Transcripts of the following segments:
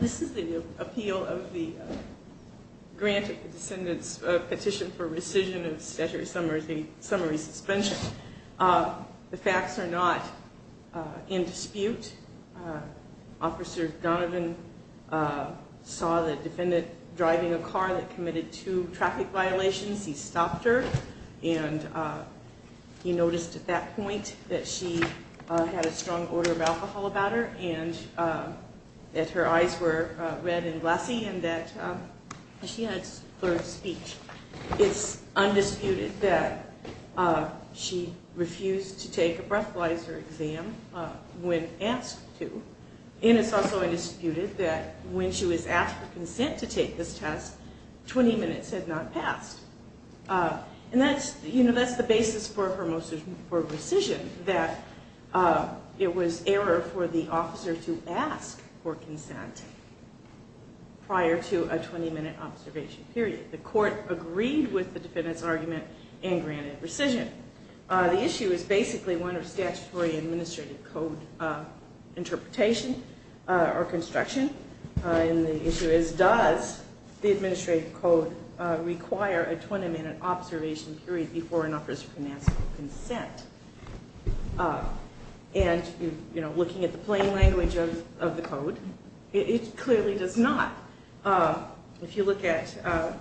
This is the appeal of the grant of the petition for rescission of statutory summary suspension. The facts are not in defiance of the statute. It's an undisputed dispute. Officer Donovan saw the defendant driving a car that committed two traffic violations. He stopped her and he noticed at that point that she had a strong odor of alcohol about her and that her eyes were red and glassy and that she had slurred speech. It's undisputed that she refused to take a breathalyzer exam when asked to. And it's also undisputed that when she was asked for consent to take this test, 20 minutes had not passed. And that's the basis for rescission, that it was error for the officer to ask for consent prior to a 20-minute observation period. The court agreed with the defendant's argument and granted rescission. The issue is basically one of statutory administrative code interpretation or construction. And the issue is does the administrative code require a 20-minute observation period before an officer can ask for consent? And, you know, looking at the plain language of the code, it clearly does not. If you look at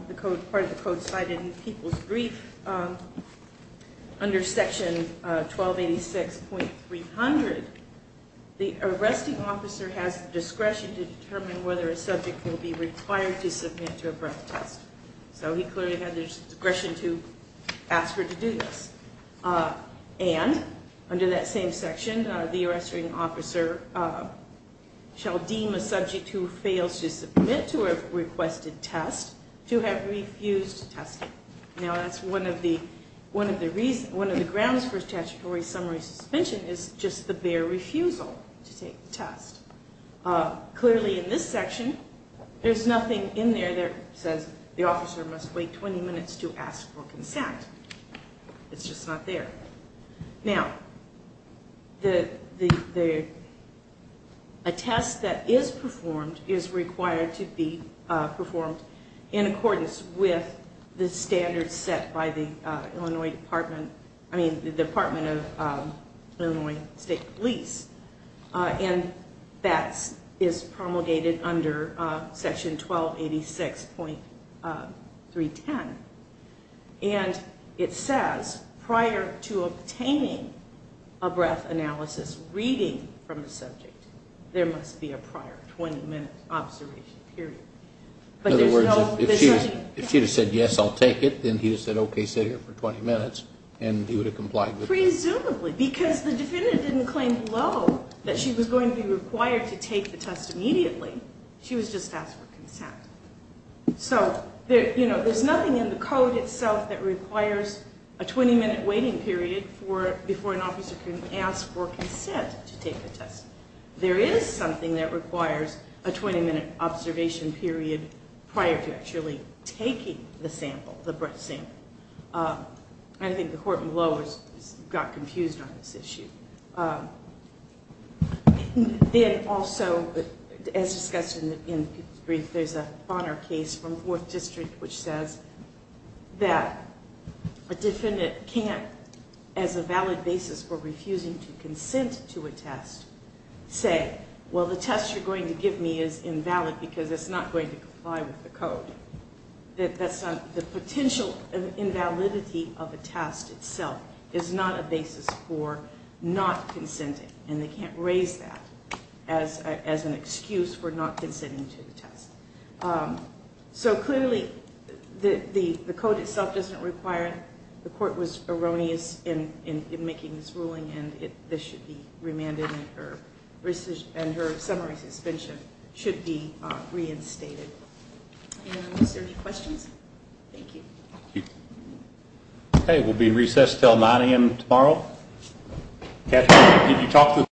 the code, part of the code cited in People's Brief under Section 1286.300, the arresting officer has the discretion to determine whether a subject will be required to submit to a breath test. So he clearly had the discretion to ask her to do this. And under that same section, the arresting officer shall deem a subject who fails to submit to a requested test to have refused testing. Now that's one of the grounds for statutory summary suspension is just the bare refusal to take the test. Clearly in this section, there's nothing in there that says the officer must wait 20 minutes to ask for consent. It's just not there. Now, a test that is performed is required to be performed in accordance with the standards set by the Illinois Department, I mean the Department of Illinois State Police. And that is promulgated under Section 1286.310. And it says prior to obtaining a breath analysis reading from a subject, there must be a prior 20-minute observation period. In other words, if she had said, yes, I'll take it, then he would have said, okay, sit here for 20 minutes, and he would have complied with it. So there's nothing in the code itself that requires a 20-minute waiting period before an officer can ask for consent to take a test. There is something that requires a 20-minute observation period prior to actually taking the sample, the breath sample. I think the court below got confused on this issue. Then also, as discussed in the brief, there's a Bonner case from Fourth District which says that a defendant can't, as a valid basis for refusing to consent to a test, say, well, the test you're going to give me is invalid because it's not going to comply with the code. The potential invalidity of a test itself is not a basis for not consenting, and they can't raise that as an excuse for not consenting to the test. So clearly, the code itself doesn't require, the court was erroneous in making this ruling, and this should be remanded, and her summary suspension should be reinstated. Is there any questions? Thank you. Okay, we'll be recessed until 9 a.m. tomorrow.